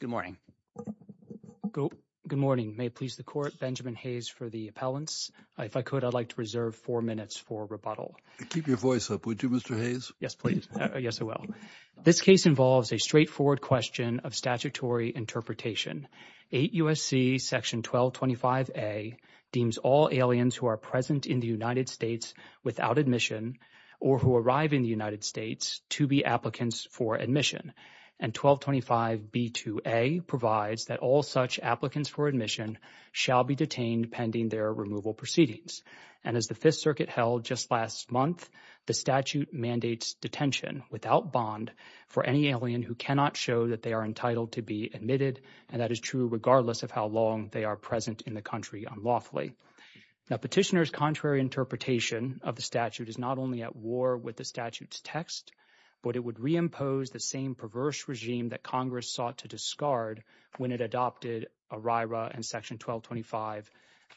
Good morning. Good morning. May it please the Court, Benjamin Hayes for the appellants. If I could, I'd like to reserve four minutes for rebuttal. Keep your voice up, would you, Mr. Hayes? Yes, please. Yes, I will. This case involves a straightforward question of statutory interpretation. 8 U.S.C. § 1225A deems all aliens who are present in the United States without admission or who arrive in the United States to be applicants for admission. And § 1225B2A provides that all such applicants for admission shall be detained pending their removal proceedings. And as the Fifth Circuit held just last month, the statute mandates detention without bond for any alien who cannot show that they are entitled to be admitted, and that is true regardless of how long they are present in the country unlawfully. Now, petitioner's contrary interpretation of the statute is not only at war with the statute's text, but it would reimpose the same perverse regime that Congress sought to discard when it adopted ERIRA and § 1225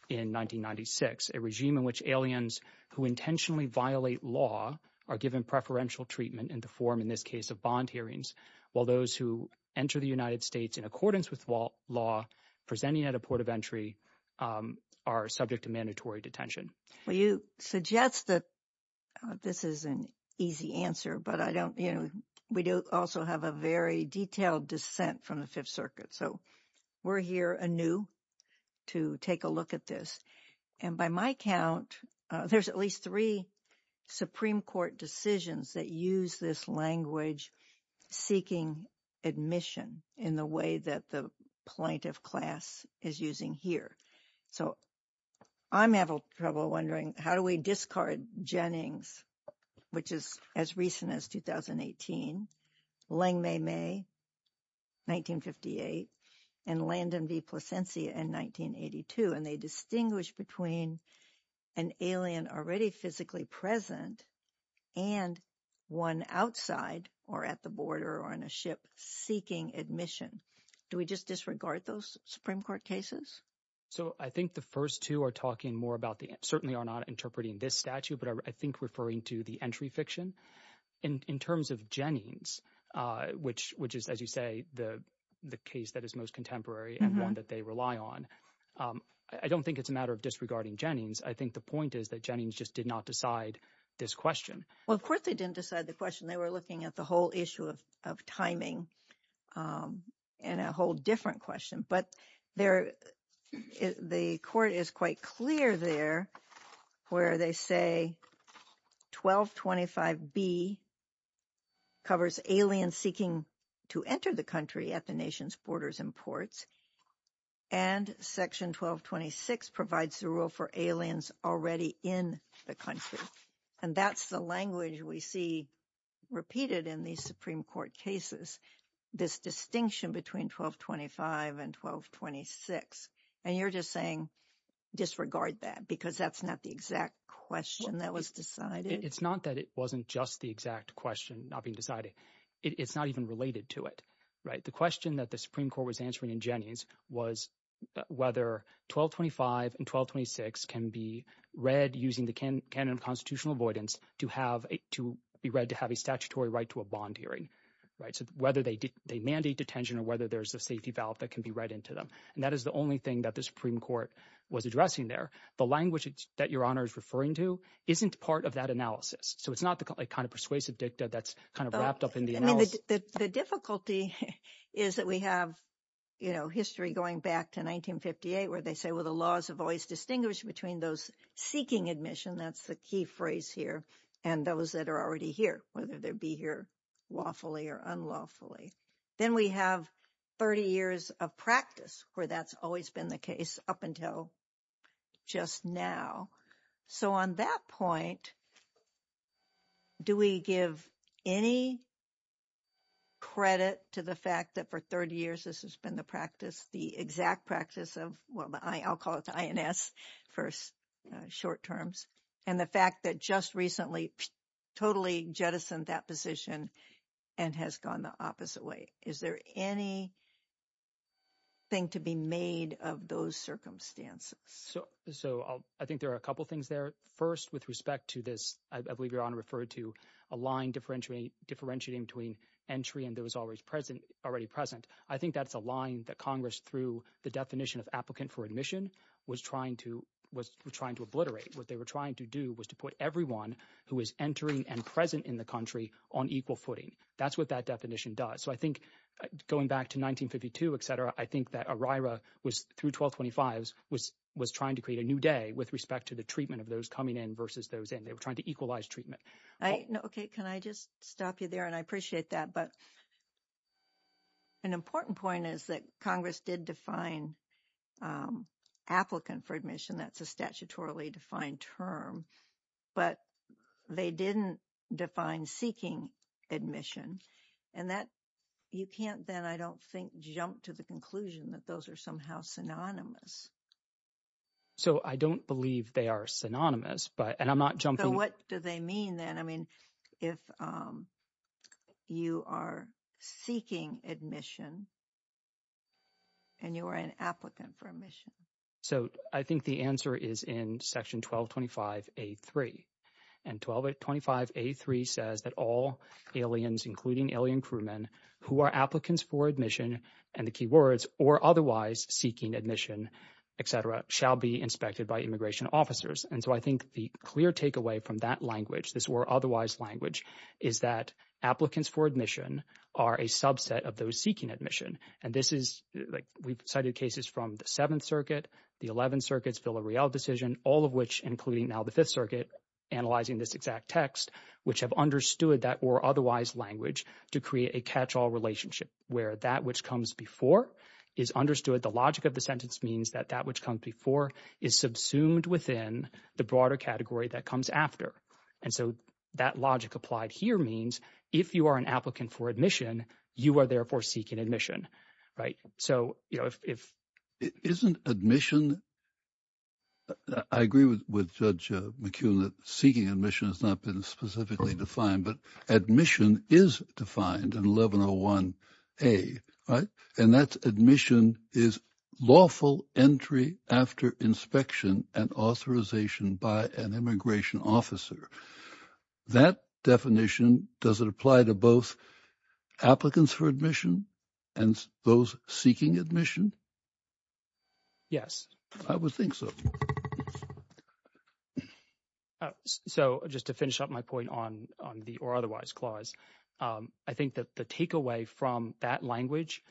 in 1996, a regime in which aliens who intentionally violate law are given preferential treatment in the form, in this case, of bond hearings, while those who enter the United States in accordance with law presenting at a port of entry are subject to mandatory detention. Well, you suggest that this is an easy answer, but I don't, you know, we do also have a very detailed dissent from the Fifth Circuit, so we're here anew to take a look at this. And by my count, there's at least three Supreme Court decisions that use this language seeking admission in the way that the plaintiff class is using here. So, I'm having trouble wondering, how do we discard Jennings, which is as recent as 2018, Lengmeimei, 1958, and Landon v. Plasencia in 1982, and they distinguish between an alien already physically present and one outside or at the border or on a ship seeking admission. Do we just disregard those Supreme Court cases? So, I think the first two are talking more about the, certainly are not interpreting this statute, but I think referring to the entry fiction. In terms of Jennings, which is, as you say, the case that is most contemporary and one that they rely on, I don't think it's a matter of disregarding Jennings. I think the point is that Jennings just did not decide this question. Well, of course they didn't decide the question. They were looking at the whole issue of timing and a whole different question, but the court is quite clear there where they say, 1225B covers aliens seeking to enter the country at the nation's borders and ports, and section 1226 provides the rule for aliens already in the country, and that's the language we see repeated in these Supreme Court cases, this distinction between 1225 and 1226, and you're just saying disregard that because that's not the exact question that was decided? It's not that it wasn't just the exact question not being decided. It's not even related to it, right? The question that the Supreme Court was answering in Jennings was whether 1225 and 1226 can be read using the canon of constitutional avoidance to be read to have a statutory right to a bond hearing, so whether they mandate detention or whether there's a safety valve that can be read into them, and that is the only thing that the Supreme Court was addressing there. The language that Your Honor is referring to isn't part of that analysis, so it's not the kind of persuasive dicta that's kind of wrapped up in the analysis. The difficulty is that we have history going back to 1958 where they say, well, the laws have always distinguished between those seeking admission, that's the key phrase here, and those that are already here, whether they be here lawfully or unlawfully. Then we have 30 years of practice where that's always been the case up until just now. So on that point, do we give any credit to the fact that for 30 years this has been the practice, the exact practice of, well, I'll call it the INS for short terms, and the fact that just recently totally jettisoned that position and has gone the opposite way? Is there anything to be made of those circumstances? So I think there are a couple things there. First, with respect to this, I believe Your Honor referred to a line differentiating between entry and those already present. I think that's a line that Congress, through the definition of applicant for admission, was trying to obliterate. What they were trying to do was to put everyone who is entering and present in the country on equal footing. That's what that definition does. So I think going back to 1952, et cetera, I think that ERIRA through 1225 was trying to create a new day with respect to the treatment of those coming in versus those in. They were trying to equalize treatment. Okay, can I just stop you there? And I appreciate that. But an important point is that Congress did define applicant for admission. That's a statutorily defined term. But they didn't define seeking admission. And you can't then, I don't think, jump to the conclusion that those are somehow synonymous. So I don't believe they are synonymous, and I'm not jumping. So what do they mean then? I mean, if you are seeking admission and you are an applicant for admission? So I think the answer is in section 1225A3. And 1225A3 says that all aliens, including alien crewmen, who are applicants for admission, and the key words, or otherwise seeking admission, et cetera, shall be inspected by immigration officers. And so I think the clear takeaway from that language, this or otherwise language, is that applicants for admission are a subset of those seeking admission. And this is, like, we cited cases from the Seventh Circuit, the Eleventh Circuit's Villareal decision, all of which, including now the Fifth Circuit, analyzing this exact text, which have understood that or otherwise language to create a catch-all relationship where that which comes before is understood. The logic of the sentence means that that which comes before is subsumed within the broader category that comes after. And so that logic applied here means if you are an applicant for admission, you are therefore seeking admission, right? So, you know, if... Isn't admission... I agree with Judge McKeown that seeking admission has not been specifically defined, but admission is defined in 1101A, right? And that's admission is lawful entry after inspection and authorization by an immigration officer. That definition, does it apply to both applicants for admission and those seeking admission? Yes. I would think so. So just to finish up my point on the or otherwise clause, I think that the takeaway from that language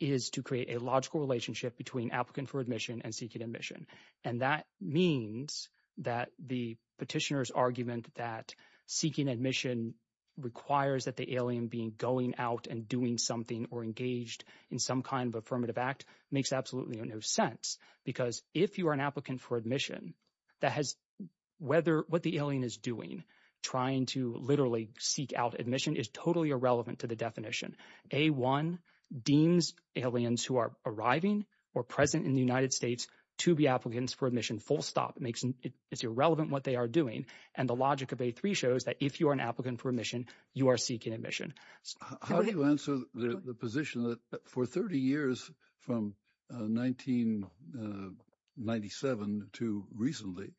is to create a logical relationship between applicant for admission and seeking admission. And that means that the petitioner's argument that seeking admission requires that the alien being going out and doing something or engaged in some kind of affirmative act makes absolutely no sense. Because if you are an applicant for admission, that has... Whether what the alien is doing, trying to literally seek out admission, is totally irrelevant to the definition. A1 deems aliens who are arriving or present in the United States to be applicants for admission. Full stop. It's irrelevant what they are doing. And the logic of A3 shows that if you are an applicant for admission, you are seeking admission. How do you answer the position that for 30 years, from 1997 to recently,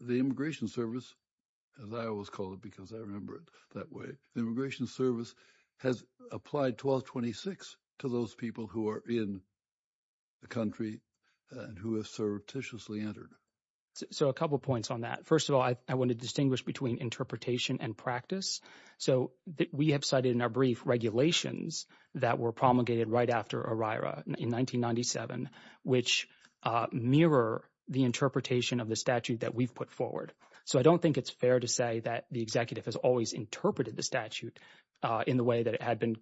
the Immigration Service, as I always call it, because I remember it that way, the Immigration Service has applied 1226 to those people who are in the country and who have surreptitiously entered. So a couple of points on that. First of all, I want to distinguish between interpretation and practice. So we have cited in our brief regulations that were promulgated right after OIRA in 1997, which mirror the interpretation of the statute that we've put forward. So I don't think it's fair to say that the executive has always interpreted the statute in the way that it had been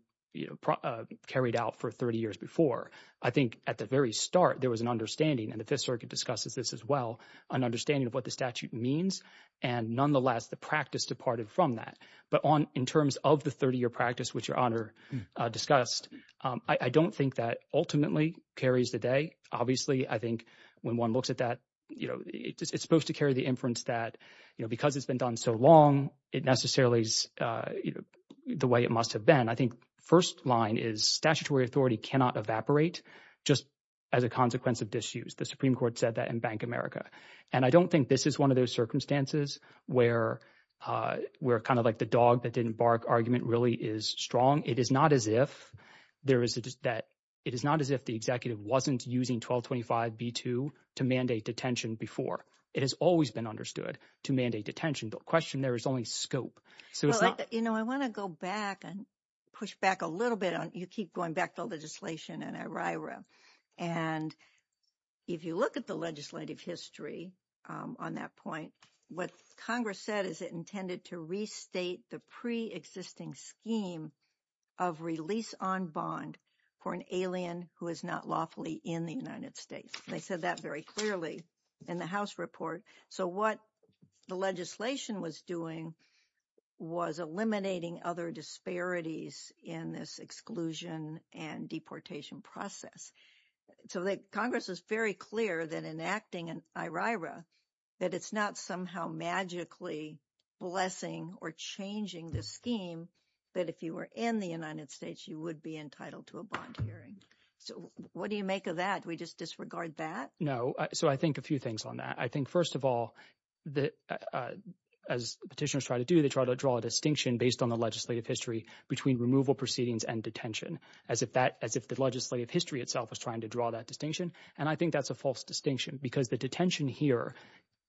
carried out for 30 years before. I think at the very start, there was an understanding, and the Fifth Circuit discusses this as well, an understanding of what the statute means, and nonetheless, the practice departed from that. But in terms of the 30-year practice, which Your Honor discussed, I don't think that ultimately carries the day. Obviously, I think when one looks at that, it's supposed to carry the inference that because it's been done so long, it necessarily is the way it must have been. I think the first line is statutory authority cannot evaporate just as a consequence of disuse. The Supreme Court said that in Bank America. And I don't think this is one of those circumstances where kind of like the dog that didn't bark argument really is strong. It is not as if the executive wasn't using 1225b2 to mandate detention before. It has always been understood to mandate detention. The question there is only scope. I want to go back and push back a little bit. You keep going back to legislation and ERIRA. And if you look at the legislative history on that point, what Congress said is it intended to restate the preexisting scheme of release on bond for an alien who is not lawfully in the United States. They said that very clearly in the House report. So what the legislation was doing was eliminating other disparities in this exclusion and deportation process. So Congress is very clear that enacting an ERIRA, that it's not somehow magically blessing or changing the scheme that if you were in the United States, you would be entitled to a bond hearing. So what do you make of that? Do we just disregard that? No. So I think a few things on that. I think, first of all, as petitioners try to do, they try to draw a distinction based on the legislative history between removal proceedings and detention, as if the legislative history itself was trying to draw that distinction. And I think that's a false distinction because the detention here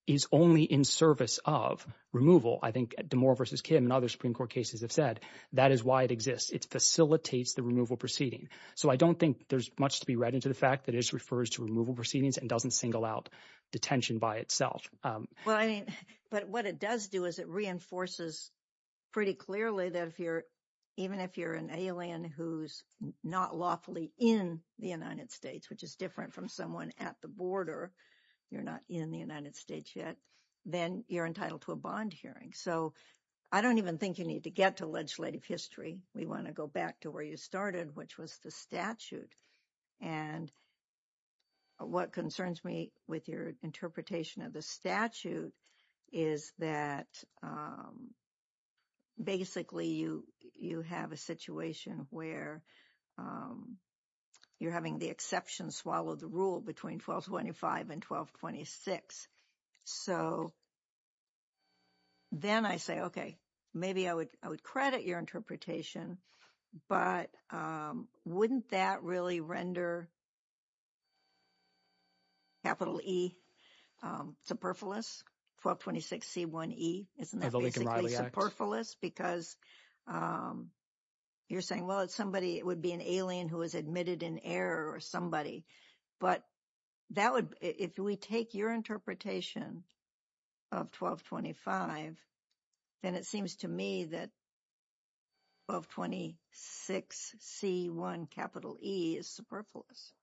is only in service of removal. I think Damore v. Kim and other Supreme Court cases have said that is why it exists. It facilitates the removal proceeding. So I don't think there's much to be read into the fact that it just refers to removal proceedings and doesn't single out detention by itself. But what it does do is it reinforces pretty clearly that even if you're an alien who's not lawfully in the United States, which is different from someone at the border, you're not in the United States yet, then you're entitled to a bond hearing. So I don't even think you need to get to legislative history. We want to go back to where you started, which was the statute. And what concerns me with your interpretation of the statute is that basically you have a situation where you're having the exception swallow the rule between 1225 and 1226. So then I say, okay, maybe I would credit your interpretation, but wouldn't that really render capital E superfluous, 1226C1E? Isn't that basically superfluous? Because you're saying, well, it would be an alien who was admitted in error or somebody. But if we take your interpretation of 1225, then it seems to me that 1226C1E is superfluous.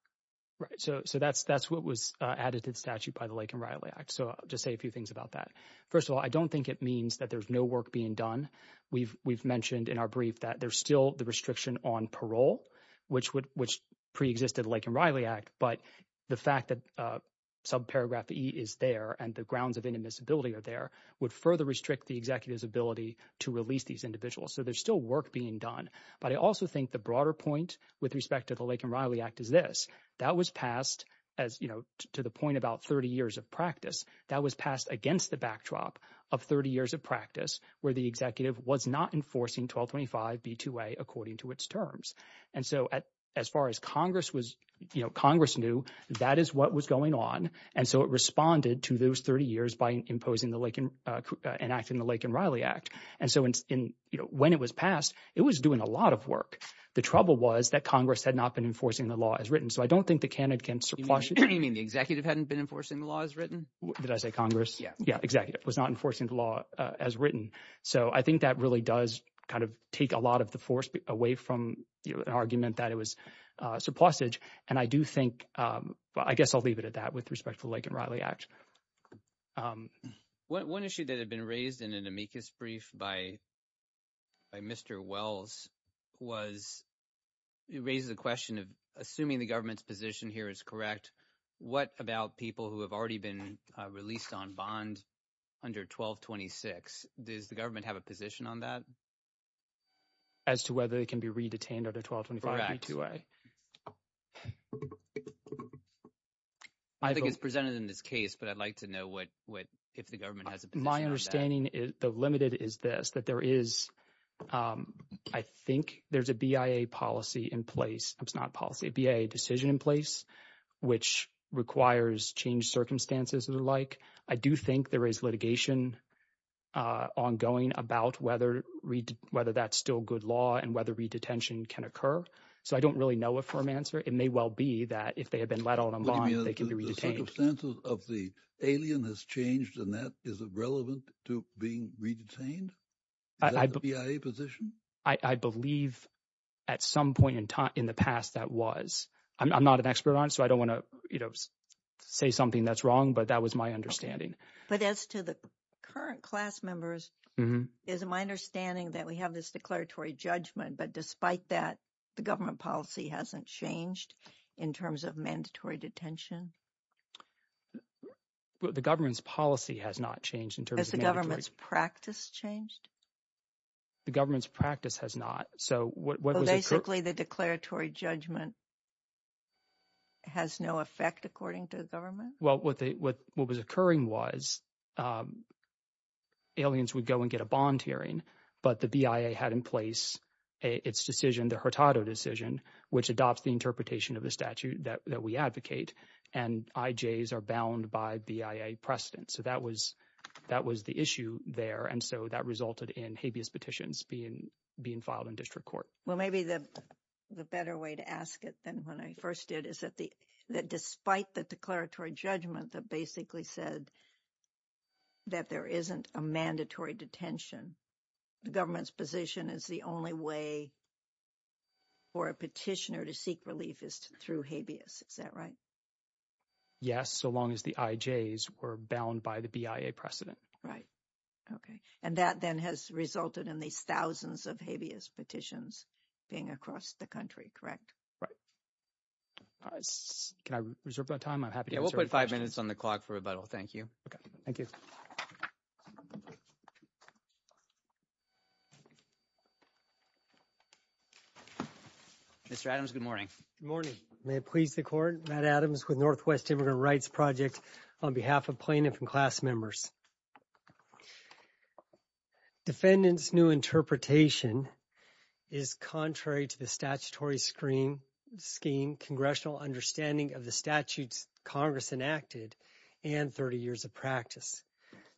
Right. So that's what was added to the statute by the Lake and Riley Act. So I'll just say a few things about that. First of all, I don't think it means that there's no work being done. We've mentioned in our brief that there's still the restriction on parole, which preexisted the Lake and Riley Act. But the fact that subparagraph E is there and the grounds of inadmissibility are there would further restrict the executive's ability to release these individuals. So there's still work being done. But I also think the broader point with respect to the Lake and Riley Act is this. That was passed to the point about 30 years of practice. That was passed against the backdrop of 30 years of practice where the executive was not enforcing 1225B2A according to its terms. And so as far as Congress knew, that is what was going on. And so it responded to those 30 years by enacting the Lake and Riley Act. And so when it was passed, it was doing a lot of work. The trouble was that Congress had not been enforcing the law as written. So I don't think the candidate can surplus it. You mean the executive hadn't been enforcing the law as written? Did I say Congress? Yeah. Yeah, executive was not enforcing the law as written. So I think that really does kind of take a lot of the force away from the argument that it was surplusage. And I do think – I guess I'll leave it at that with respect to the Lake and Riley Act. One issue that had been raised in an amicus brief by Mr. Wells was – it raises the question of assuming the government's position here is correct, what about people who have already been released on bond under 1226? Does the government have a position on that? As to whether they can be re-detained under 1225. Correct. I think it's presented in this case, but I'd like to know if the government has a position on that. My understanding, though limited, is this, that there is – I think there's a BIA policy in place. It's not policy. A BIA decision in place which requires changed circumstances and the like. I do think there is litigation ongoing about whether that's still good law and whether re-detention can occur. So I don't really know a firm answer. It may well be that if they have been let on a bond, they can be re-detained. The circumstances of the alien has changed and that is relevant to being re-detained? Is that the BIA position? I believe at some point in the past that was. I'm not an expert on it, so I don't want to say something that's wrong, but that was my understanding. But as to the current class members, it is my understanding that we have this declaratory judgment, but despite that, the government policy hasn't changed in terms of mandatory detention? The government's policy has not changed in terms of mandatory – Has the government's practice changed? The government's practice has not. So what was – So basically the declaratory judgment has no effect according to the government? Well, what was occurring was aliens would go and get a bond hearing, but the BIA had in place its decision, the Hurtado decision, which adopts the interpretation of the statute that we advocate, and IJs are bound by BIA precedent. So that was the issue there, and so that resulted in habeas petitions being filed in district court. Well, maybe the better way to ask it than when I first did is that despite the declaratory judgment that basically said that there isn't a mandatory detention, the government's position is the only way for a petitioner to seek relief is through habeas. Is that right? Yes, so long as the IJs were bound by the BIA precedent. Right, okay. And that then has resulted in these thousands of habeas petitions being across the country, correct? Right. Can I reserve my time? I'm happy to answer any questions. Yeah, we'll put five minutes on the clock for rebuttal. Thank you. Okay, thank you. Mr. Adams, good morning. Good morning. May it please the court, Matt Adams with Northwest Immigrant Rights Project on behalf of plaintiff and class members. Defendant's new interpretation is contrary to the statutory scheme, congressional understanding of the statutes Congress enacted, and 30 years of practice.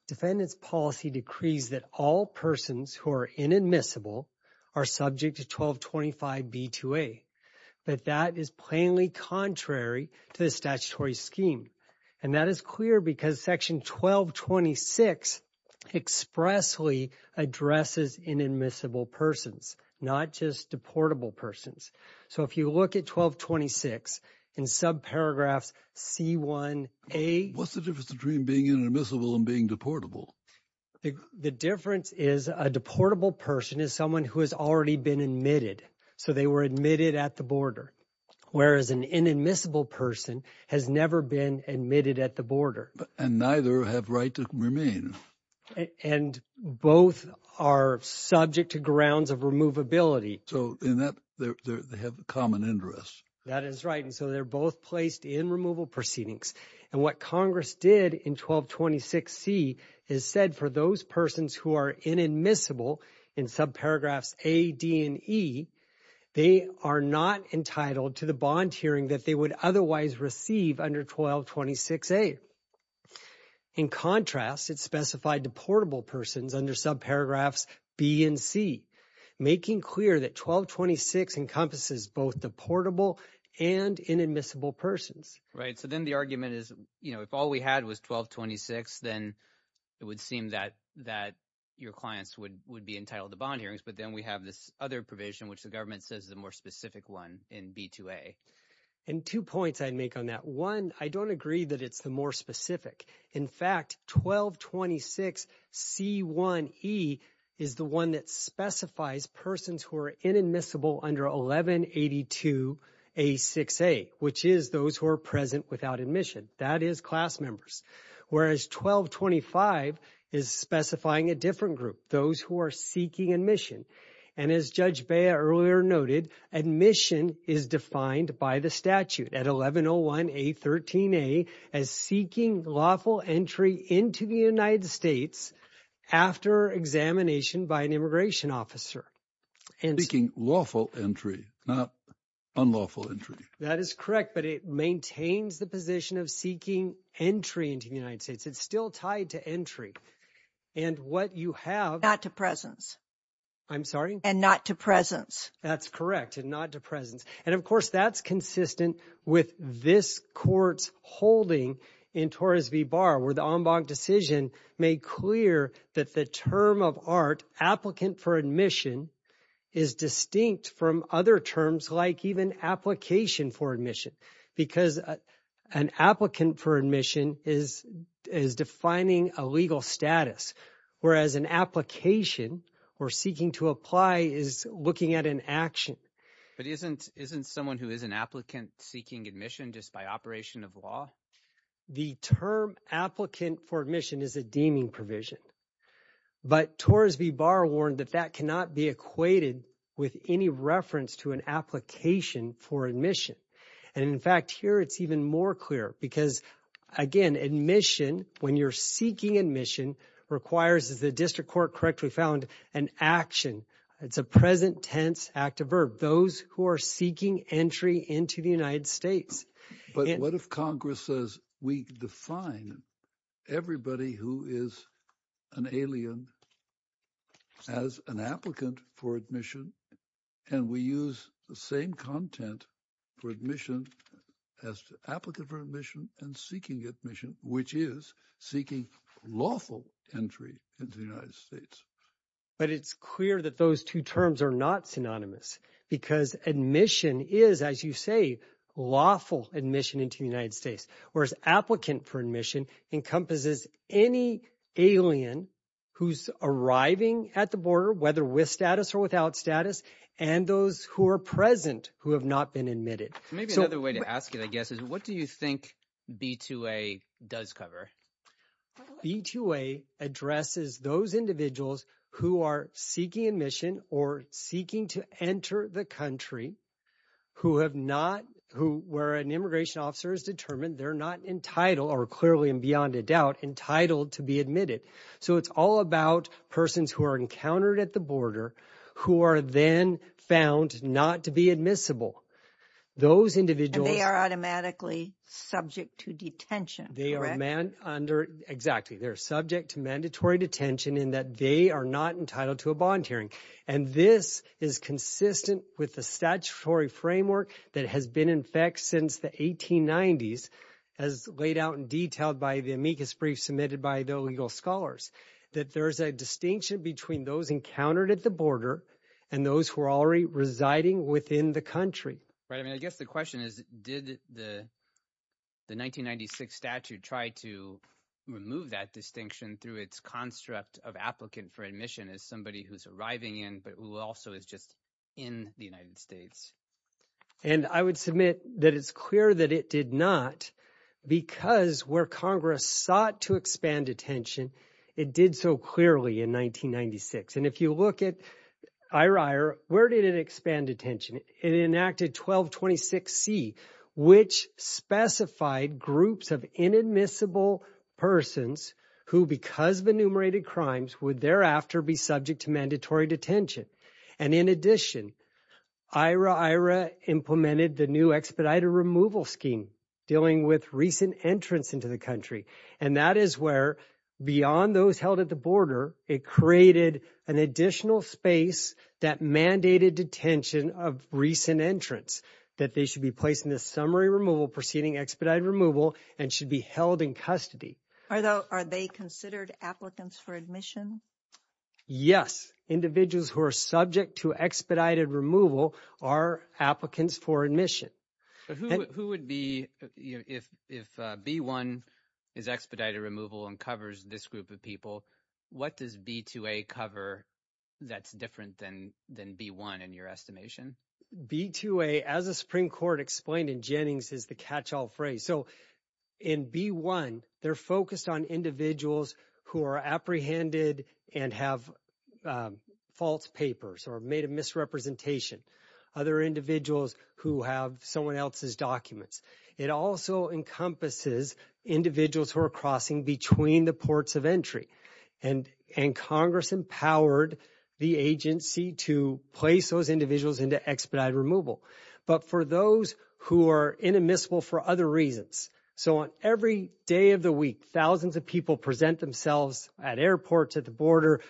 Defendant's policy decrees that all persons who are inadmissible are subject to 1225B2A, but that is plainly contrary to the statutory scheme. And that is clear because section 1226 expressly addresses inadmissible persons, not just deportable persons. So if you look at 1226 in subparagraphs C1A. What's the difference between being inadmissible and being deportable? The difference is a deportable person is someone who has already been admitted. So they were admitted at the border, whereas an inadmissible person has never been admitted at the border. And neither have right to remain. And both are subject to grounds of removability. So in that they have common interests. That is right. And so they're both placed in removal proceedings. And what Congress did in 1226C is said for those persons who are inadmissible in subparagraphs A, D, and E, they are not entitled to the bond hearing that they would otherwise receive under 1226A. In contrast, it's specified deportable persons under subparagraphs B and C, making clear that 1226 encompasses both deportable and inadmissible persons. Right. So then the argument is, you know, if all we had was 1226, then it would seem that your clients would be entitled to bond hearings. But then we have this other provision, which the government says is the more specific one in B2A. And two points I'd make on that. One, I don't agree that it's the more specific. In fact, 1226C1E is the one that specifies persons who are inadmissible under 1182A6A, which is those who are present without admission. That is class members. Whereas 1225 is specifying a different group, those who are seeking admission. And as Judge Bea earlier noted, admission is defined by the statute at 1101A13A as seeking lawful entry into the United States after examination by an immigration officer. Seeking lawful entry, not unlawful entry. That is correct. But it maintains the position of seeking entry into the United States. It's still tied to entry. And what you have— Not to presence. I'm sorry? And not to presence. That's correct. And not to presence. And, of course, that's consistent with this Court's holding in Torres v. Barr where the en banc decision made clear that the term of art, applicant for admission, is distinct from other terms like even application for admission because an applicant for admission is defining a legal status, whereas an application or seeking to apply is looking at an action. But isn't someone who is an applicant seeking admission just by operation of law? The term applicant for admission is a deeming provision. But Torres v. Barr warned that that cannot be equated with any reference to an application for admission. And, in fact, here it's even more clear because, again, admission, when you're seeking admission, requires, as the district court correctly found, an action. It's a present tense active verb. Those who are seeking entry into the United States. But what if Congress says we define everybody who is an alien as an applicant for admission and we use the same content for admission as applicant for admission and seeking admission, which is seeking lawful entry into the United States? But it's clear that those two terms are not synonymous because admission is, as you say, lawful admission into the United States, whereas applicant for admission encompasses any alien who's arriving at the border, whether with status or without status, and those who are present who have not been admitted. Maybe another way to ask it, I guess, is what do you think B-2A does cover? B-2A addresses those individuals who are seeking admission or seeking to enter the country who have not, where an immigration officer is determined they're not entitled, or clearly and beyond a doubt, entitled to be admitted. So it's all about persons who are encountered at the border who are then found not to be admissible. Those individuals. And they are automatically subject to detention, correct? They are subject to mandatory detention in that they are not entitled to a bond hearing. And this is consistent with the statutory framework that has been in effect since the 1890s as laid out in detail by the amicus brief submitted by the legal scholars, that there is a distinction between those encountered at the border and those who are already residing within the country. I guess the question is, did the 1996 statute try to remove that distinction through its construct of applicant for admission as somebody who's arriving in but who also is just in the United States? And I would submit that it's clear that it did not because where Congress sought to expand detention, it did so clearly in 1996. And if you look at Ira Iyer, where did it expand detention? It enacted 1226C, which specified groups of inadmissible persons who because of enumerated crimes would thereafter be subject to mandatory detention. And in addition, Ira Iyer implemented the new expedited removal scheme dealing with recent entrance into the country. And that is where beyond those held at the border, it created an additional space that mandated detention of recent entrance that they should be placed in the summary removal preceding expedited removal and should be held in custody. Are they considered applicants for admission? Yes. Individuals who are subject to expedited removal are applicants for admission. Who would be, if B-1 is expedited removal and covers this group of people, what does B-2A cover that's different than B-1 in your estimation? B-2A, as the Supreme Court explained in Jennings, is the catch-all phrase. So in B-1, they're focused on individuals who are apprehended and have false papers or made a misrepresentation, other individuals who have someone else's documents. It also encompasses individuals who are crossing between the ports of entry. And Congress empowered the agency to place those individuals into expedited removal. But for those who are inadmissible for other reasons, so on every day of the week, thousands of people present themselves at airports, at the border.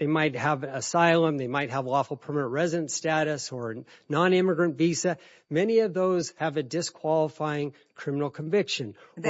They might have asylum. They might have lawful permanent residence status or a nonimmigrant visa. Many of those have a disqualifying criminal conviction. Are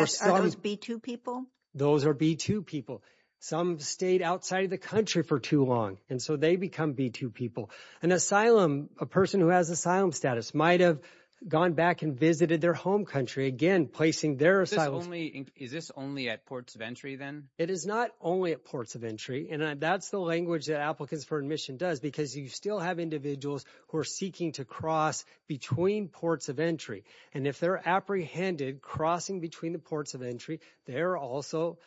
those B-2 people? Those are B-2 people. Some stayed outside of the country for too long, and so they become B-2 people. An asylum, a person who has asylum status, might have gone back and visited their home country, again, placing their asylum. Is this only at ports of entry then? It is not only at ports of entry, and that's the language that applicants for admission does because you still have individuals who are seeking to cross between ports of entry. And if they're apprehended crossing between the ports of entry, they're also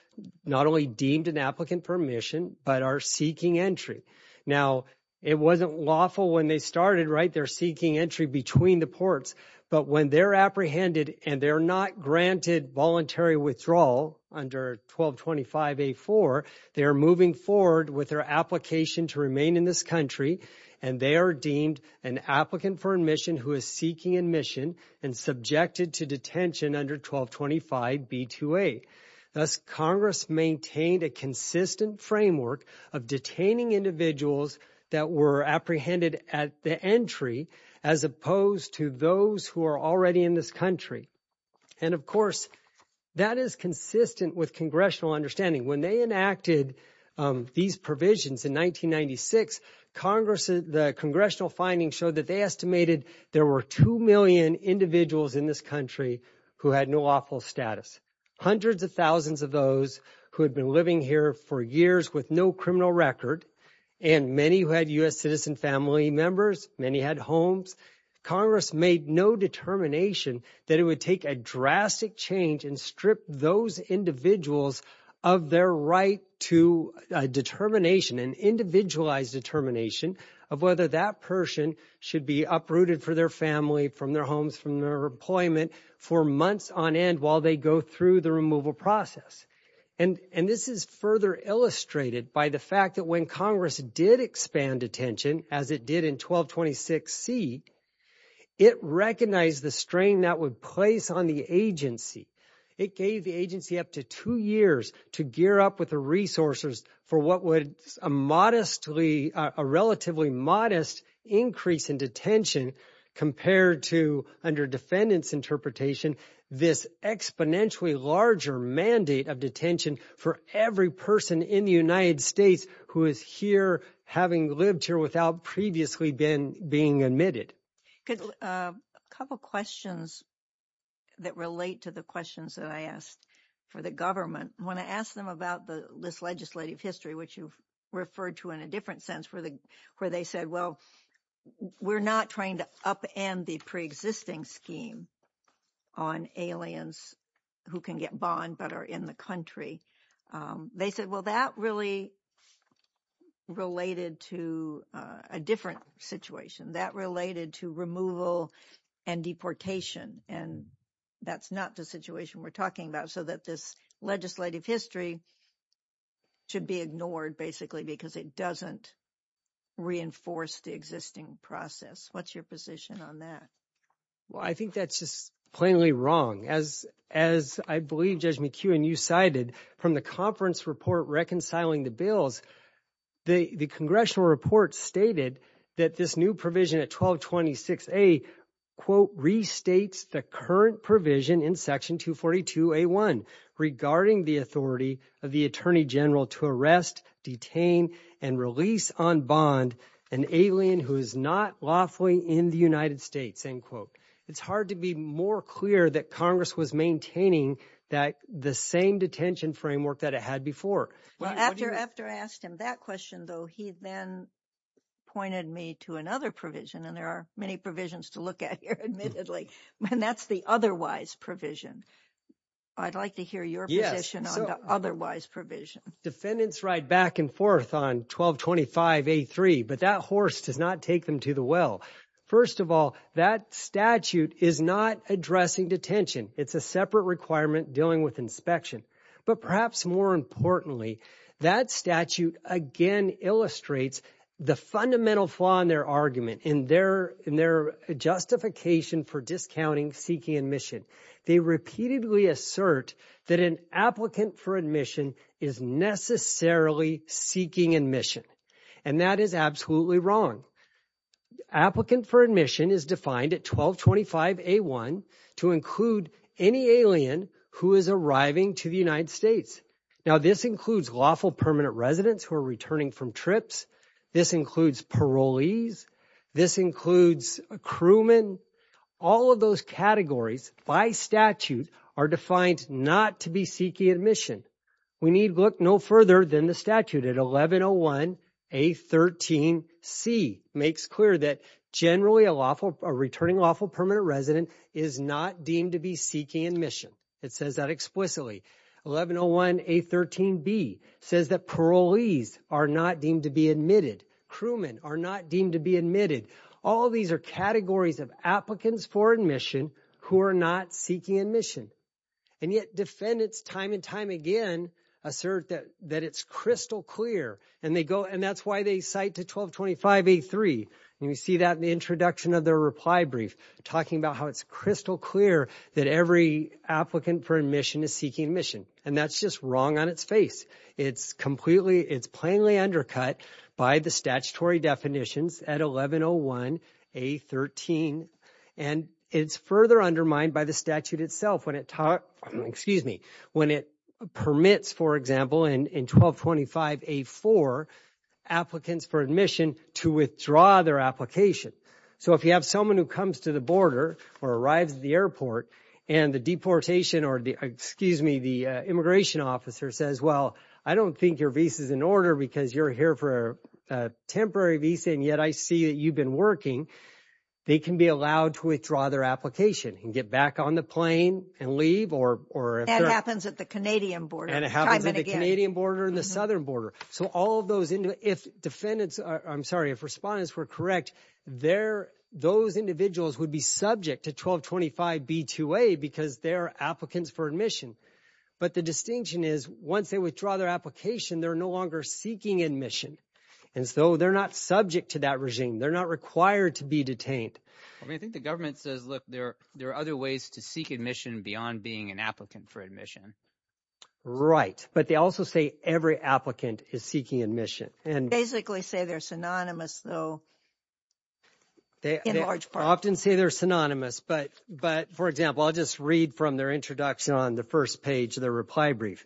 not only deemed an applicant for admission but are seeking entry. Now, it wasn't lawful when they started, right? They're seeking entry between the ports. But when they're apprehended and they're not granted voluntary withdrawal under 1225A4, they're moving forward with their application to remain in this country, and they are deemed an applicant for admission who is seeking admission and subjected to detention under 1225B2A. Thus, Congress maintained a consistent framework of detaining individuals that were apprehended at the entry as opposed to those who are already in this country. And, of course, that is consistent with congressional understanding. When they enacted these provisions in 1996, the congressional findings showed that they estimated there were 2 million individuals in this country who had no lawful status. Hundreds of thousands of those who had been living here for years with no criminal record and many who had U.S. citizen family members, many had homes, Congress made no determination that it would take a drastic change and strip those individuals of their right to a determination, an individualized determination of whether that person should be uprooted for their family, from their homes, from their employment for months on end while they go through the removal process. And this is further illustrated by the fact that when Congress did expand detention, as it did in 1226C, it recognized the strain that would place on the agency. It gave the agency up to two years to gear up with the resources for what was a modestly, a relatively modest increase in detention compared to, under defendants' interpretation, this exponentially larger mandate of detention for every person in the United States who is here having lived here without previously being admitted. A couple questions that relate to the questions that I asked for the government. When I asked them about this legislative history, which you referred to in a different sense, where they said, well, we're not trying to upend the pre-existing scheme on aliens who can get bond but are in the country. They said, well, that really related to a different situation. That related to removal and deportation. And that's not the situation we're talking about so that this legislative history should be ignored, basically, because it doesn't reinforce the existing process. What's your position on that? Well, I think that's just plainly wrong. As I believe Judge McHugh and you cited from the conference report reconciling the bills, the congressional report stated that this new provision at 1226A, quote, restates the current provision in Section 242A1 regarding the authority of the Attorney General to arrest, detain, and release on bond an alien who is not lawfully in the United States, end quote. It's hard to be more clear that Congress was maintaining the same detention framework that it had before. After I asked him that question, though, he then pointed me to another provision, and there are many provisions to look at here, admittedly, and that's the otherwise provision. I'd like to hear your position on the otherwise provision. Defendants ride back and forth on 1225A3, but that horse does not take them to the well. First of all, that statute is not addressing detention. It's a separate requirement dealing with inspection. But perhaps more importantly, that statute again illustrates the fundamental flaw in their argument, in their justification for discounting seeking admission. They repeatedly assert that an applicant for admission is necessarily seeking admission, and that is absolutely wrong. Applicant for admission is defined at 1225A1 to include any alien who is arriving to the United States. Now, this includes lawful permanent residents who are returning from trips. This includes parolees. This includes a crewman. All of those categories by statute are defined not to be seeking admission. We need look no further than the statute at 1101A13C makes clear that generally a returning lawful permanent resident is not deemed to be seeking admission. It says that explicitly. 1101A13B says that parolees are not deemed to be admitted. Crewmen are not deemed to be admitted. All of these are categories of applicants for admission who are not seeking admission. And yet defendants time and time again assert that it's crystal clear, and that's why they cite to 1225A3. You see that in the introduction of their reply brief, talking about how it's crystal clear that every applicant for admission is seeking admission, and that's just wrong on its face. It's plainly undercut by the statutory definitions at 1101A13, and it's further undermined by the statute itself when it permits, for example, in 1225A4 applicants for admission to withdraw their application. So if you have someone who comes to the border or arrives at the airport and the deportation or the immigration officer says, well, I don't think your visa is in order because you're here for a temporary visa, and yet I see that you've been working, they can be allowed to withdraw their application and get back on the plane and leave. That happens at the Canadian border. And it happens at the Canadian border and the southern border. So all of those, if defendants, I'm sorry, if respondents were correct, those individuals would be subject to 1225B2A because they're applicants for admission. But the distinction is once they withdraw their application, they're no longer seeking admission. And so they're not subject to that regime. They're not required to be detained. I mean, I think the government says, look, there are other ways to seek admission beyond being an applicant for admission. Right. But they also say every applicant is seeking admission. They basically say they're synonymous, though, in large part. They often say they're synonymous. But, for example, I'll just read from their introduction on the first page of their reply brief.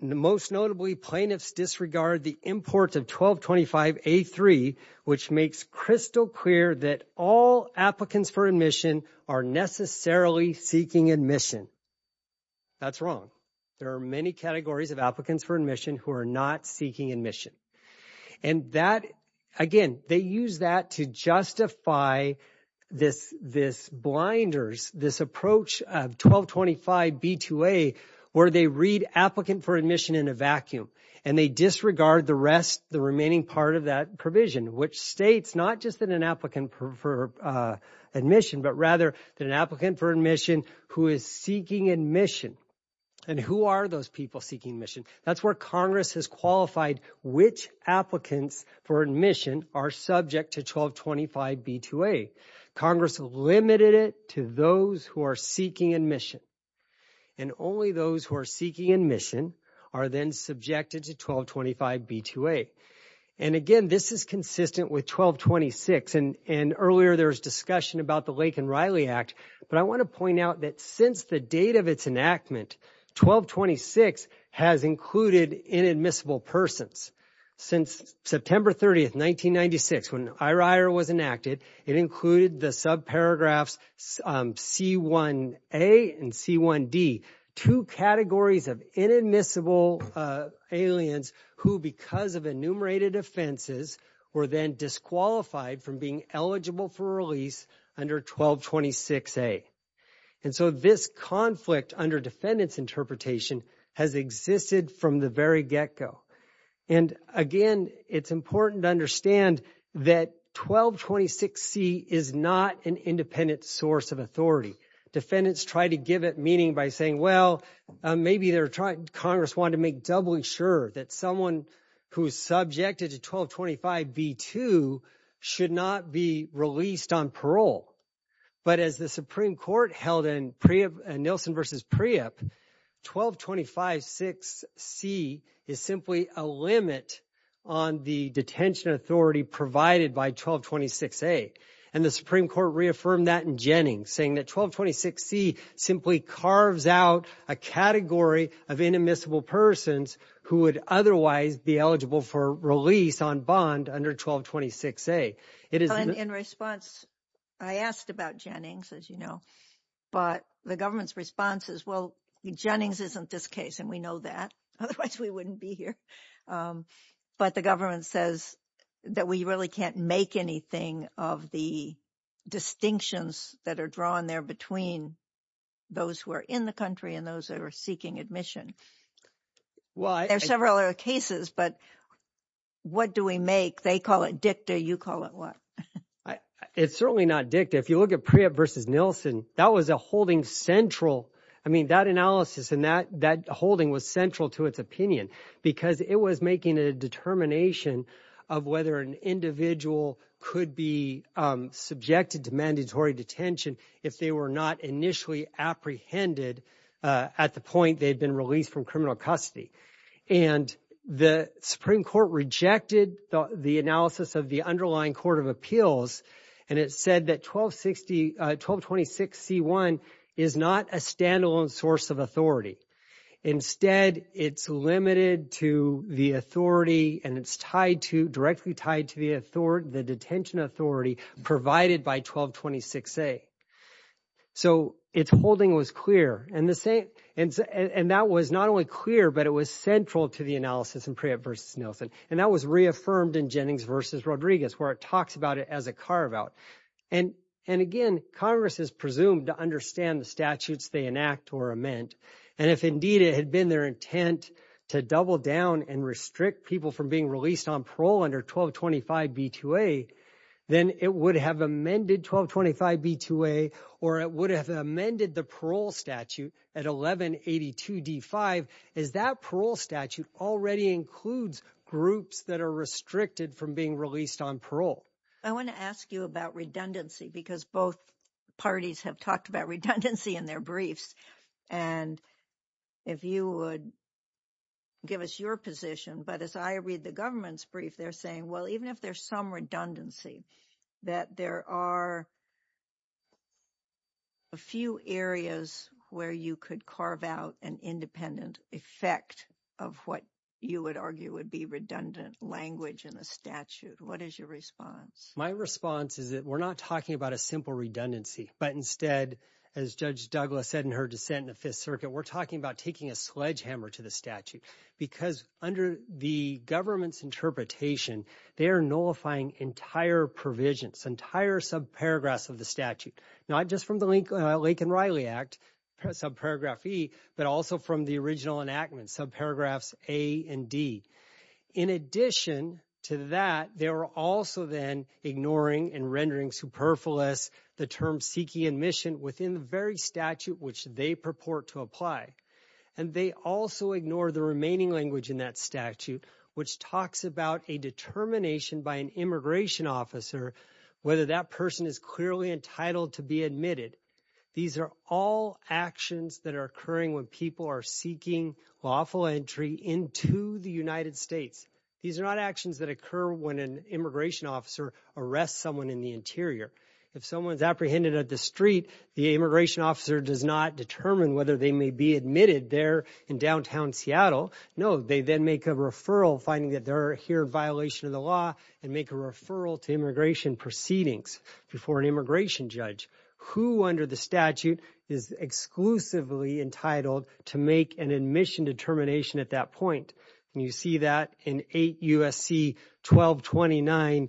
Most notably, plaintiffs disregard the import of 1225A3, which makes crystal clear that all applicants for admission are necessarily seeking admission. That's wrong. There are many categories of applicants for admission who are not seeking admission. And that, again, they use that to justify this blinders, this approach of 1225B2A where they read applicant for admission in a vacuum and they disregard the rest, the remaining part of that provision, which states not just that an applicant for admission, but rather that an applicant for admission who is seeking admission. And who are those people seeking admission? That's where Congress has qualified which applicants for admission are subject to 1225B2A. Congress limited it to those who are seeking admission. And only those who are seeking admission are then subjected to 1225B2A. And, again, this is consistent with 1226. And earlier there was discussion about the Lake and Riley Act. But I want to point out that since the date of its enactment, 1226 has included inadmissible persons. Since September 30th, 1996, when IRIR was enacted, it included the subparagraphs C1A and C1D, two categories of inadmissible aliens who, because of enumerated offenses, were then disqualified from being eligible for release under 1226A. And so this conflict under defendant's interpretation has existed from the very get-go. And, again, it's important to understand that 1226C is not an independent source of authority. Defendants try to give it meaning by saying, well, maybe Congress wanted to make doubly sure that someone who is subjected to 1225B2 should not be released on parole. But as the Supreme Court held in Nielsen v. Priyip, 12256C is simply a limit on the detention authority provided by 1226A. And the Supreme Court reaffirmed that in Jennings, saying that 1226C simply carves out a category of inadmissible persons who would otherwise be eligible for release on bond under 1226A. In response, I asked about Jennings, as you know. But the government's response is, well, Jennings isn't this case, and we know that. Otherwise, we wouldn't be here. But the government says that we really can't make anything of the distinctions that are drawn there between those who are in the country and those that are seeking admission. There are several other cases, but what do we make? They call it dicta. You call it what? It's certainly not dicta. If you look at Priyip v. Nielsen, that was a holding central. I mean, that analysis and that holding was central to its opinion because it was making a determination of whether an individual could be subjected to mandatory detention if they were not initially apprehended at the point they had been released from criminal custody. And the Supreme Court rejected the analysis of the underlying Court of Appeals, and it said that 1226C1 is not a standalone source of authority. Instead, it's limited to the authority, and it's directly tied to the detention authority provided by 1226A. So its holding was clear, and that was not only clear, but it was central to the analysis in Priyip v. Nielsen, and that was reaffirmed in Jennings v. Rodriguez, where it talks about it as a carve-out. And again, Congress is presumed to understand the statutes they enact or amend, and if indeed it had been their intent to double down and restrict people from being released on parole under 1225B2A, then it would have amended 1225B2A, or it would have amended the parole statute at 1182D5, as that parole statute already includes groups that are restricted from being released on parole. I want to ask you about redundancy because both parties have talked about redundancy in their briefs. And if you would give us your position, but as I read the government's brief, they're saying, well, even if there's some redundancy, that there are a few areas where you could carve out an independent effect of what you would argue would be redundant language in the statute. What is your response? My response is that we're not talking about a simple redundancy, but instead, as Judge Douglas said in her dissent in the Fifth Circuit, we're talking about taking a sledgehammer to the statute because under the government's interpretation, they are nullifying entire provisions, entire subparagraphs of the statute, not just from the Lake and Riley Act, subparagraph E, but also from the original enactment, subparagraphs A and D. In addition to that, they were also then ignoring and rendering superfluous the term seeking admission within the very statute which they purport to apply. And they also ignore the remaining language in that statute, which talks about a determination by an immigration officer, whether that person is clearly entitled to be admitted. These are all actions that are occurring when people are seeking lawful entry into the United States. These are not actions that occur when an immigration officer arrests someone in the interior. If someone is apprehended at the street, the immigration officer does not determine whether they may be admitted there in downtown Seattle. No, they then make a referral, finding that they're here in violation of the law, and make a referral to immigration proceedings before an immigration judge, who under the statute is exclusively entitled to make an admission determination at that point. And you see that in 8 U.S.C. 1229,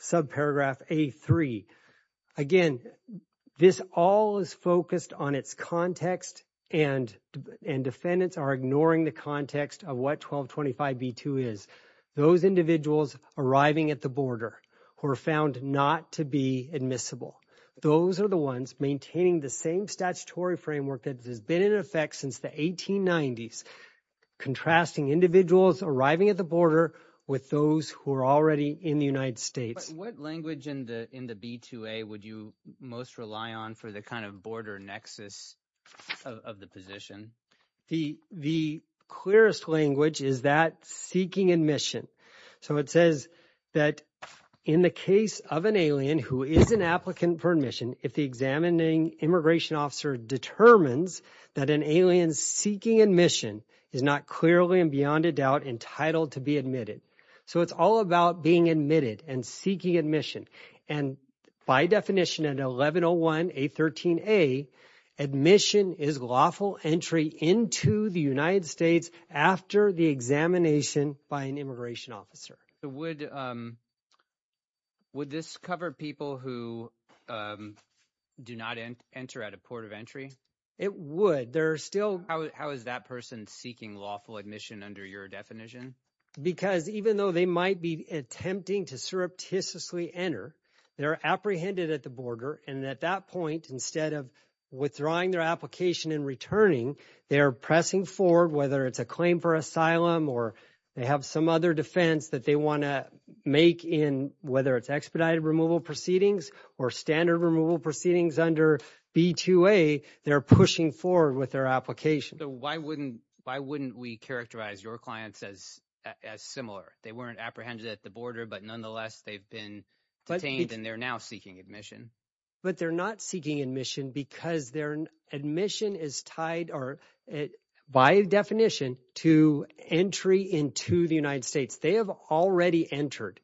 subparagraph A3. Again, this all is focused on its context, and defendants are ignoring the context of what 1225b2 is. Those individuals arriving at the border who are found not to be admissible, those are the ones maintaining the same statutory framework that has been in effect since the 1890s, contrasting individuals arriving at the border with those who are already in the United States. What language in the B2A would you most rely on for the kind of border nexus of the position? The clearest language is that seeking admission. So it says that in the case of an alien who is an applicant for admission, if the examining immigration officer determines that an alien seeking admission is not clearly and beyond a doubt entitled to be admitted. So it's all about being admitted and seeking admission. And by definition at 1101 A13A, admission is lawful entry into the United States after the examination by an immigration officer. Would this cover people who do not enter at a port of entry? It would. How is that person seeking lawful admission under your definition? Because even though they might be attempting to surreptitiously enter, they're apprehended at the border, and at that point, instead of withdrawing their application and returning, they're pressing forward, whether it's a claim for asylum or they have some other defense that they want to make in whether it's expedited removal proceedings or standard removal proceedings under B2A, they're pushing forward with their application. So why wouldn't we characterize your clients as similar? They weren't apprehended at the border, but nonetheless, they've been detained, and they're now seeking admission. But they're not seeking admission because their admission is tied by definition to entry into the United States. They have already entered,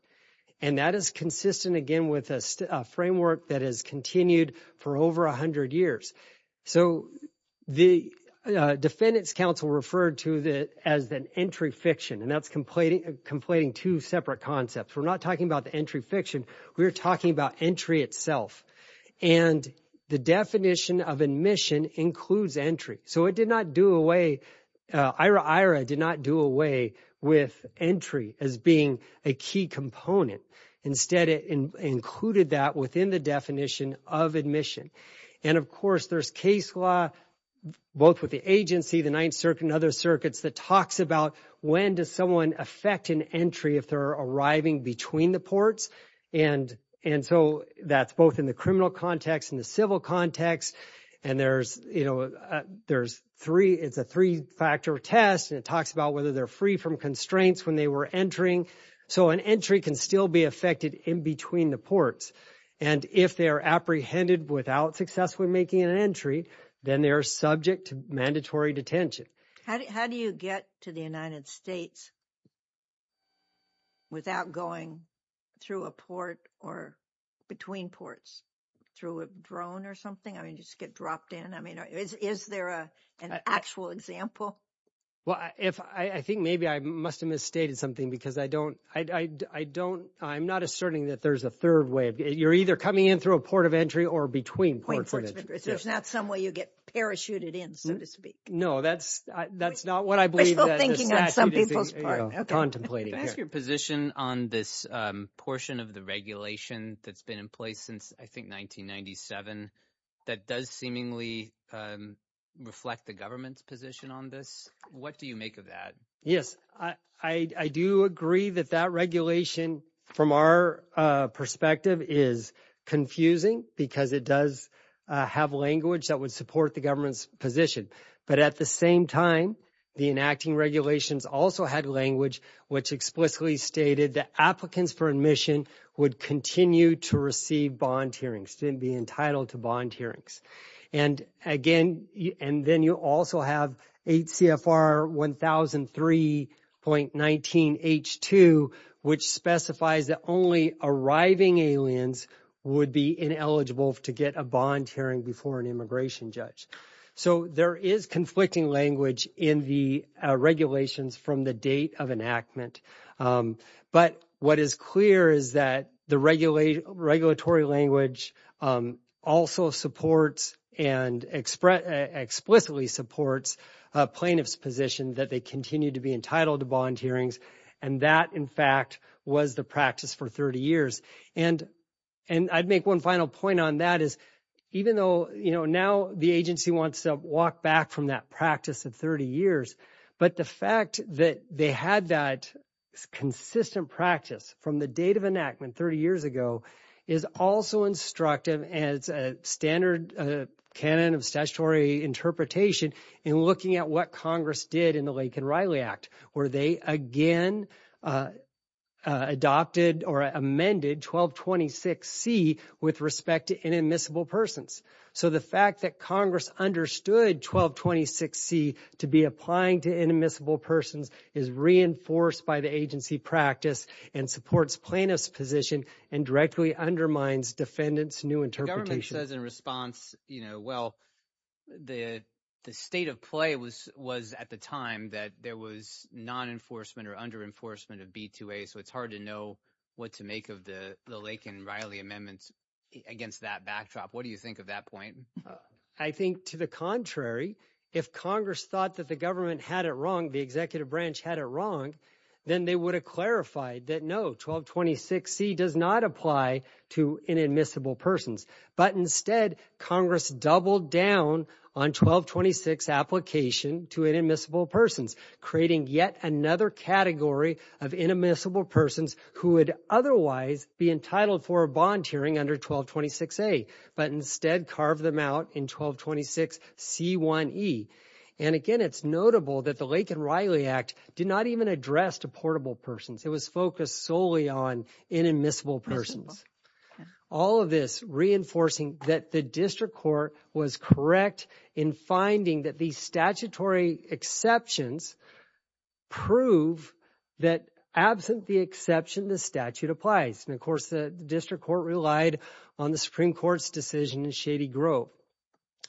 and that is consistent, again, with a framework that has continued for over 100 years. So the defendants' counsel referred to it as an entry fiction, and that's completing two separate concepts. We're not talking about the entry fiction. We're talking about entry itself, and the definition of admission includes entry. So it did not do away, IRA-IRA did not do away with entry as being a key component. Instead, it included that within the definition of admission. And, of course, there's case law, both with the agency, the Ninth Circuit, and other circuits that talks about when does someone affect an entry if they're arriving between the ports. And so that's both in the criminal context and the civil context, and it's a three-factor test, and it talks about whether they're free from constraints when they were entering. So an entry can still be affected in between the ports. And if they're apprehended without successfully making an entry, then they're subject to mandatory detention. How do you get to the United States without going through a port or between ports? Through a drone or something? I mean, you just get dropped in? I mean, is there an actual example? Well, I think maybe I must have misstated something because I don't ‑‑ I'm not asserting that there's a third way. You're either coming in through a port of entry or between ports of entry. There's not some way you get parachuted in, so to speak. No, that's not what I believe. We're still thinking on some people's part. Contemplating. Can I ask your position on this portion of the regulation that's been in place since, I think, 1997 that does seemingly reflect the government's position on this? What do you make of that? Yes, I do agree that that regulation, from our perspective, is confusing because it does have language that would support the government's position. But at the same time, the enacting regulations also had language which explicitly stated that applicants for admission would continue to receive bond hearings, to be entitled to bond hearings. And again, and then you also have 8 CFR 1003.19H2, which specifies that only arriving aliens would be ineligible to get a bond hearing before an immigration judge. So there is conflicting language in the regulations from the date of enactment. But what is clear is that the regulatory language also supports and explicitly supports plaintiffs' position that they continue to be entitled to bond hearings, and that, in fact, was the practice for 30 years. And I'd make one final point on that. Even though now the agency wants to walk back from that practice of 30 years, but the fact that they had that consistent practice from the date of enactment 30 years ago is also instructive as a standard canon of statutory interpretation in looking at what Congress did in the Lake and Riley Act, where they again adopted or amended 1226C with respect to inadmissible persons. So the fact that Congress understood 1226C to be applying to inadmissible persons is reinforced by the agency practice and supports plaintiffs' position and directly undermines defendants' new interpretation. The government says in response, you know, well, the state of play was at the time that there was non-enforcement or under-enforcement of B2A, so it's hard to know what to make of the Lake and Riley amendments against that backdrop. What do you think of that point? I think to the contrary. If Congress thought that the government had it wrong, the executive branch had it wrong, then they would have clarified that no, 1226C does not apply to inadmissible persons. But instead, Congress doubled down on 1226 application to inadmissible persons, creating yet another category of inadmissible persons who would otherwise be entitled for a bond hearing under 1226A, but instead carved them out in 1226C1E. And again, it's notable that the Lake and Riley Act did not even address deportable persons. It was focused solely on inadmissible persons. All of this reinforcing that the district court was correct in finding that these statutory exceptions prove that absent the exception, the statute applies. And of course, the district court relied on the Supreme Court's decision in Shady Grove.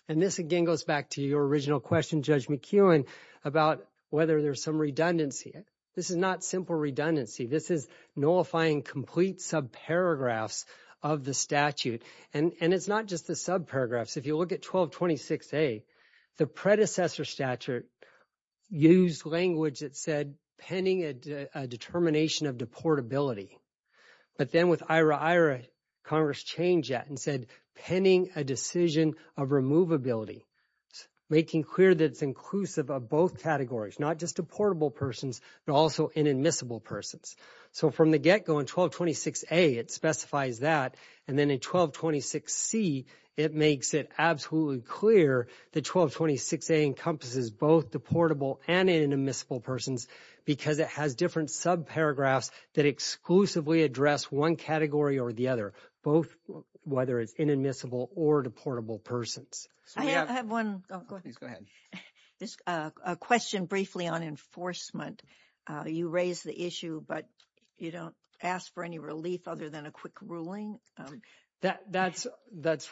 And this again goes back to your original question, Judge McKeown, about whether there's some redundancy. This is not simple redundancy. This is nullifying complete subparagraphs of the statute. And it's not just the subparagraphs. If you look at 1226A, the predecessor statute used language that said penning a determination of deportability. But then with IRA-IRA, Congress changed that and said penning a decision of removability, making clear that it's inclusive of both categories, not just deportable persons but also inadmissible persons. So from the get-go in 1226A, it specifies that. And then in 1226C, it makes it absolutely clear that 1226A encompasses both deportable and inadmissible persons because it has different subparagraphs that exclusively address one category or the other, both whether it's inadmissible or deportable persons. I have one question briefly on enforcement. You raised the issue, but you don't ask for any relief other than a quick ruling? That's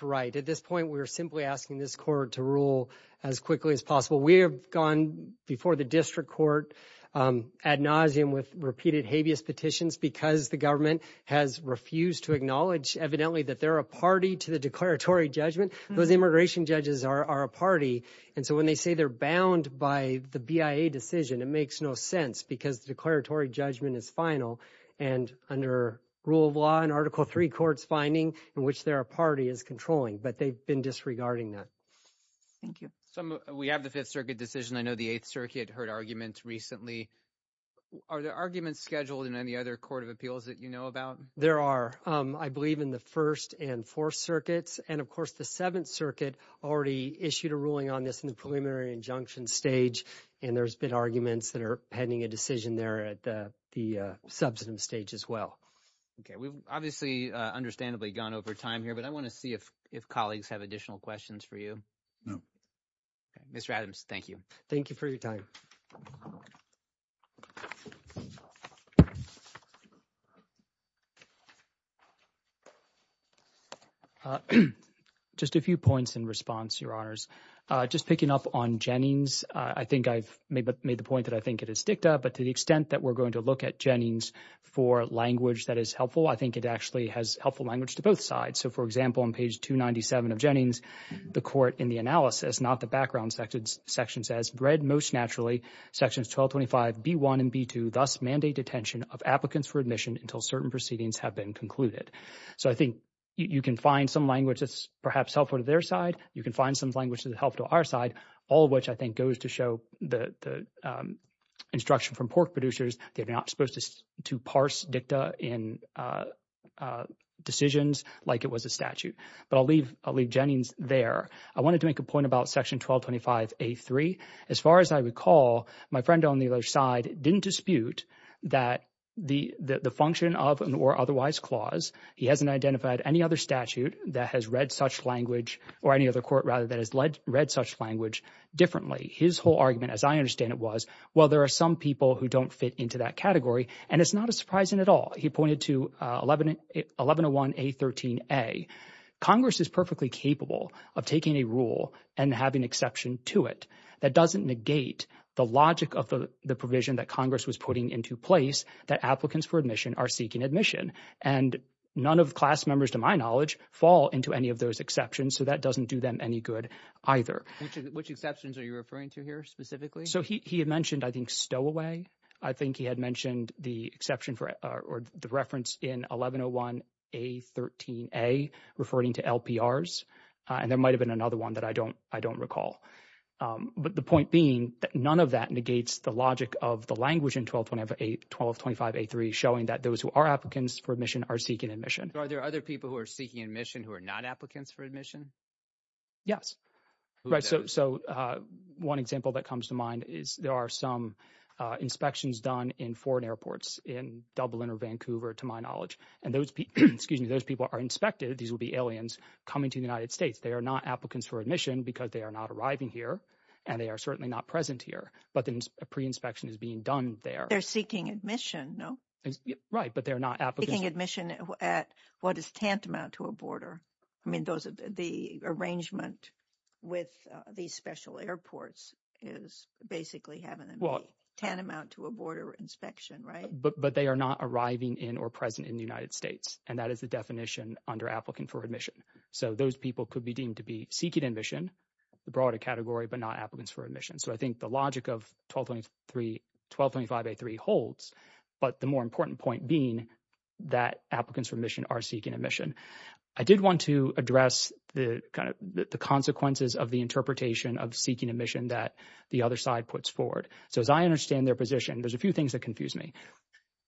right. At this point, we're simply asking this court to rule as quickly as possible. We have gone before the district court ad nauseam with repeated habeas petitions because the government has refused to acknowledge evidently that they're a party to the declaratory judgment. Those immigration judges are a party, and so when they say they're bound by the BIA decision, it makes no sense because the declaratory judgment is final. And under rule of law, an Article III court's finding in which they're a party is controlling, but they've been disregarding that. Thank you. We have the Fifth Circuit decision. I know the Eighth Circuit heard arguments recently. Are there arguments scheduled in any other court of appeals that you know about? There are, I believe, in the First and Fourth Circuits, and, of course, the Seventh Circuit already issued a ruling on this in the preliminary injunction stage, and there's been arguments that are pending a decision there at the substantive stage as well. We've obviously understandably gone over time here, but I want to see if colleagues have additional questions for you. No. Mr. Adams, thank you. Thank you for your time. Just a few points in response, Your Honors. Just picking up on Jennings, I think I've made the point that I think it is dicta, but to the extent that we're going to look at Jennings for language that is helpful, I think it actually has helpful language to both sides. So, for example, on page 297 of Jennings, the court in the analysis, not the background section, says, read most naturally sections 1225B1 and B2 thus mandate detention of applicants for admission until certain proceedings have been concluded. So I think you can find some language that's perhaps helpful to their side. You can find some language that's helpful to our side, all of which I think goes to show the instruction from pork producers. They're not supposed to parse dicta in decisions like it was a statute. But I'll leave Jennings there. I wanted to make a point about section 1225A3. As far as I recall, my friend on the other side didn't dispute that the function of an or otherwise clause, he hasn't identified any other statute that has read such language or any other court rather that has read such language differently. His whole argument, as I understand it, was, well, there are some people who don't fit into that category, and it's not surprising at all. He pointed to 1101A13A. Congress is perfectly capable of taking a rule and having exception to it. That doesn't negate the logic of the provision that Congress was putting into place that applicants for admission are seeking admission. And none of the class members, to my knowledge, fall into any of those exceptions, so that doesn't do them any good either. Which exceptions are you referring to here specifically? So he had mentioned, I think, stowaway. I think he had mentioned the exception or the reference in 1101A13A referring to LPRs. And there might have been another one that I don't recall. But the point being that none of that negates the logic of the language in 1225A3 showing that those who are applicants for admission are seeking admission. Are there other people who are seeking admission who are not applicants for admission? Yes. Right. So one example that comes to mind is there are some inspections done in foreign airports in Dublin or Vancouver, to my knowledge. And those people are inspected. These will be aliens coming to the United States. They are not applicants for admission because they are not arriving here, and they are certainly not present here. But then a pre-inspection is being done there. They're seeking admission, no? Right, but they're not applicants. Seeking admission at what is tantamount to a border. I mean, the arrangement with these special airports is basically having a tantamount to a border inspection, right? But they are not arriving in or present in the United States. And that is the definition under applicant for admission. So those people could be deemed to be seeking admission, the broader category, but not applicants for admission. So I think the logic of 1225A3 holds, but the more important point being that applicants for admission are seeking admission. I did want to address the consequences of the interpretation of seeking admission that the other side puts forward. So as I understand their position, there's a few things that confuse me.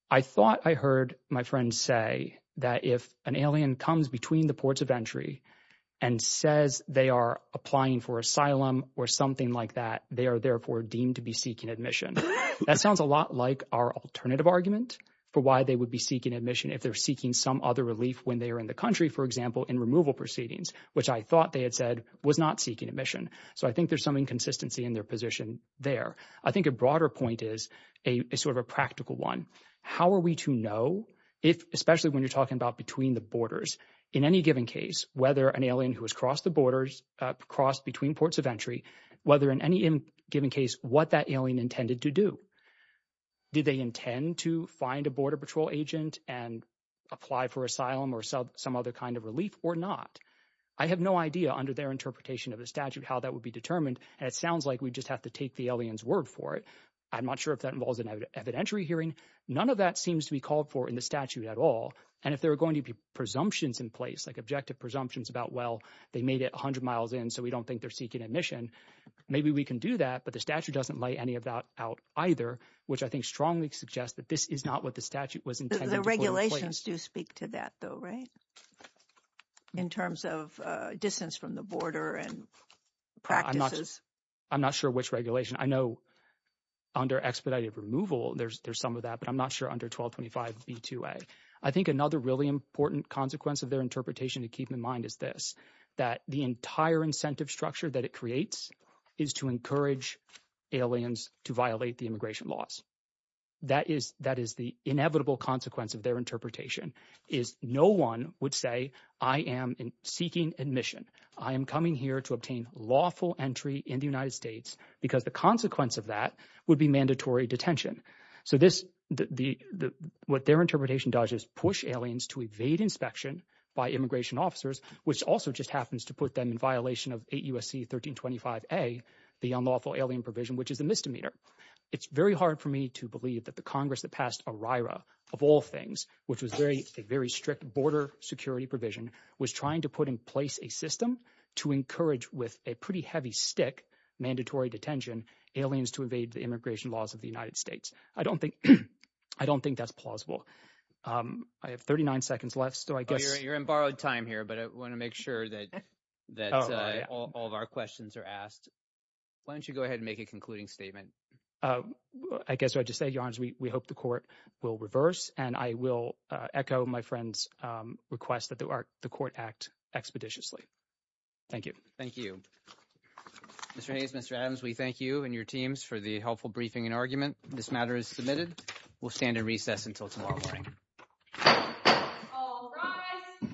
I thought I heard my friend say that if an alien comes between the ports of entry and says they are applying for asylum or something like that, they are therefore deemed to be seeking admission. That sounds a lot like our alternative argument for why they would be seeking admission if they're seeking some other relief when they are in the country, for example, in removal proceedings, which I thought they had said was not seeking admission. So I think there's some inconsistency in their position there. I think a broader point is a sort of a practical one. How are we to know if, especially when you're talking about between the borders, in any given case, whether an alien who has crossed the borders, crossed between ports of entry, whether in any given case, what that alien intended to do? Did they intend to find a border patrol agent and apply for asylum or some other kind of relief or not? I have no idea under their interpretation of the statute how that would be determined, and it sounds like we just have to take the alien's word for it. I'm not sure if that involves an evidentiary hearing. None of that seems to be called for in the statute at all. And if there are going to be presumptions in place, like objective presumptions about, well, they made it 100 miles in, so we don't think they're seeking admission, maybe we can do that. But the statute doesn't lay any of that out either, which I think strongly suggests that this is not what the statute was intended to put in place. The regulations do speak to that, though, right, in terms of distance from the border and practices? I'm not sure which regulation. I know under expedited removal there's some of that, but I'm not sure under 1225b2a. I think another really important consequence of their interpretation to keep in mind is this, that the entire incentive structure that it creates is to encourage aliens to violate the immigration laws. That is the inevitable consequence of their interpretation is no one would say I am seeking admission. I am coming here to obtain lawful entry in the United States because the consequence of that would be mandatory detention. So what their interpretation does is push aliens to evade inspection by immigration officers, which also just happens to put them in violation of 8 U.S.C. 1325a, the unlawful alien provision, which is a misdemeanor. It's very hard for me to believe that the Congress that passed OIRA of all things, which was a very strict border security provision, was trying to put in place a system to encourage with a pretty heavy stick mandatory detention aliens to evade the immigration laws of the United States. I don't think that's plausible. I have 39 seconds left, so I guess— You're in borrowed time here, but I want to make sure that all of our questions are asked. Why don't you go ahead and make a concluding statement? I guess what I just say, Your Honor, is we hope the court will reverse, and I will echo my friend's request that the court act expeditiously. Thank you. Thank you. Mr. Hayes, Mr. Adams, we thank you and your teams for the helpful briefing and argument. This matter is submitted. We'll stand at recess until tomorrow morning. All rise.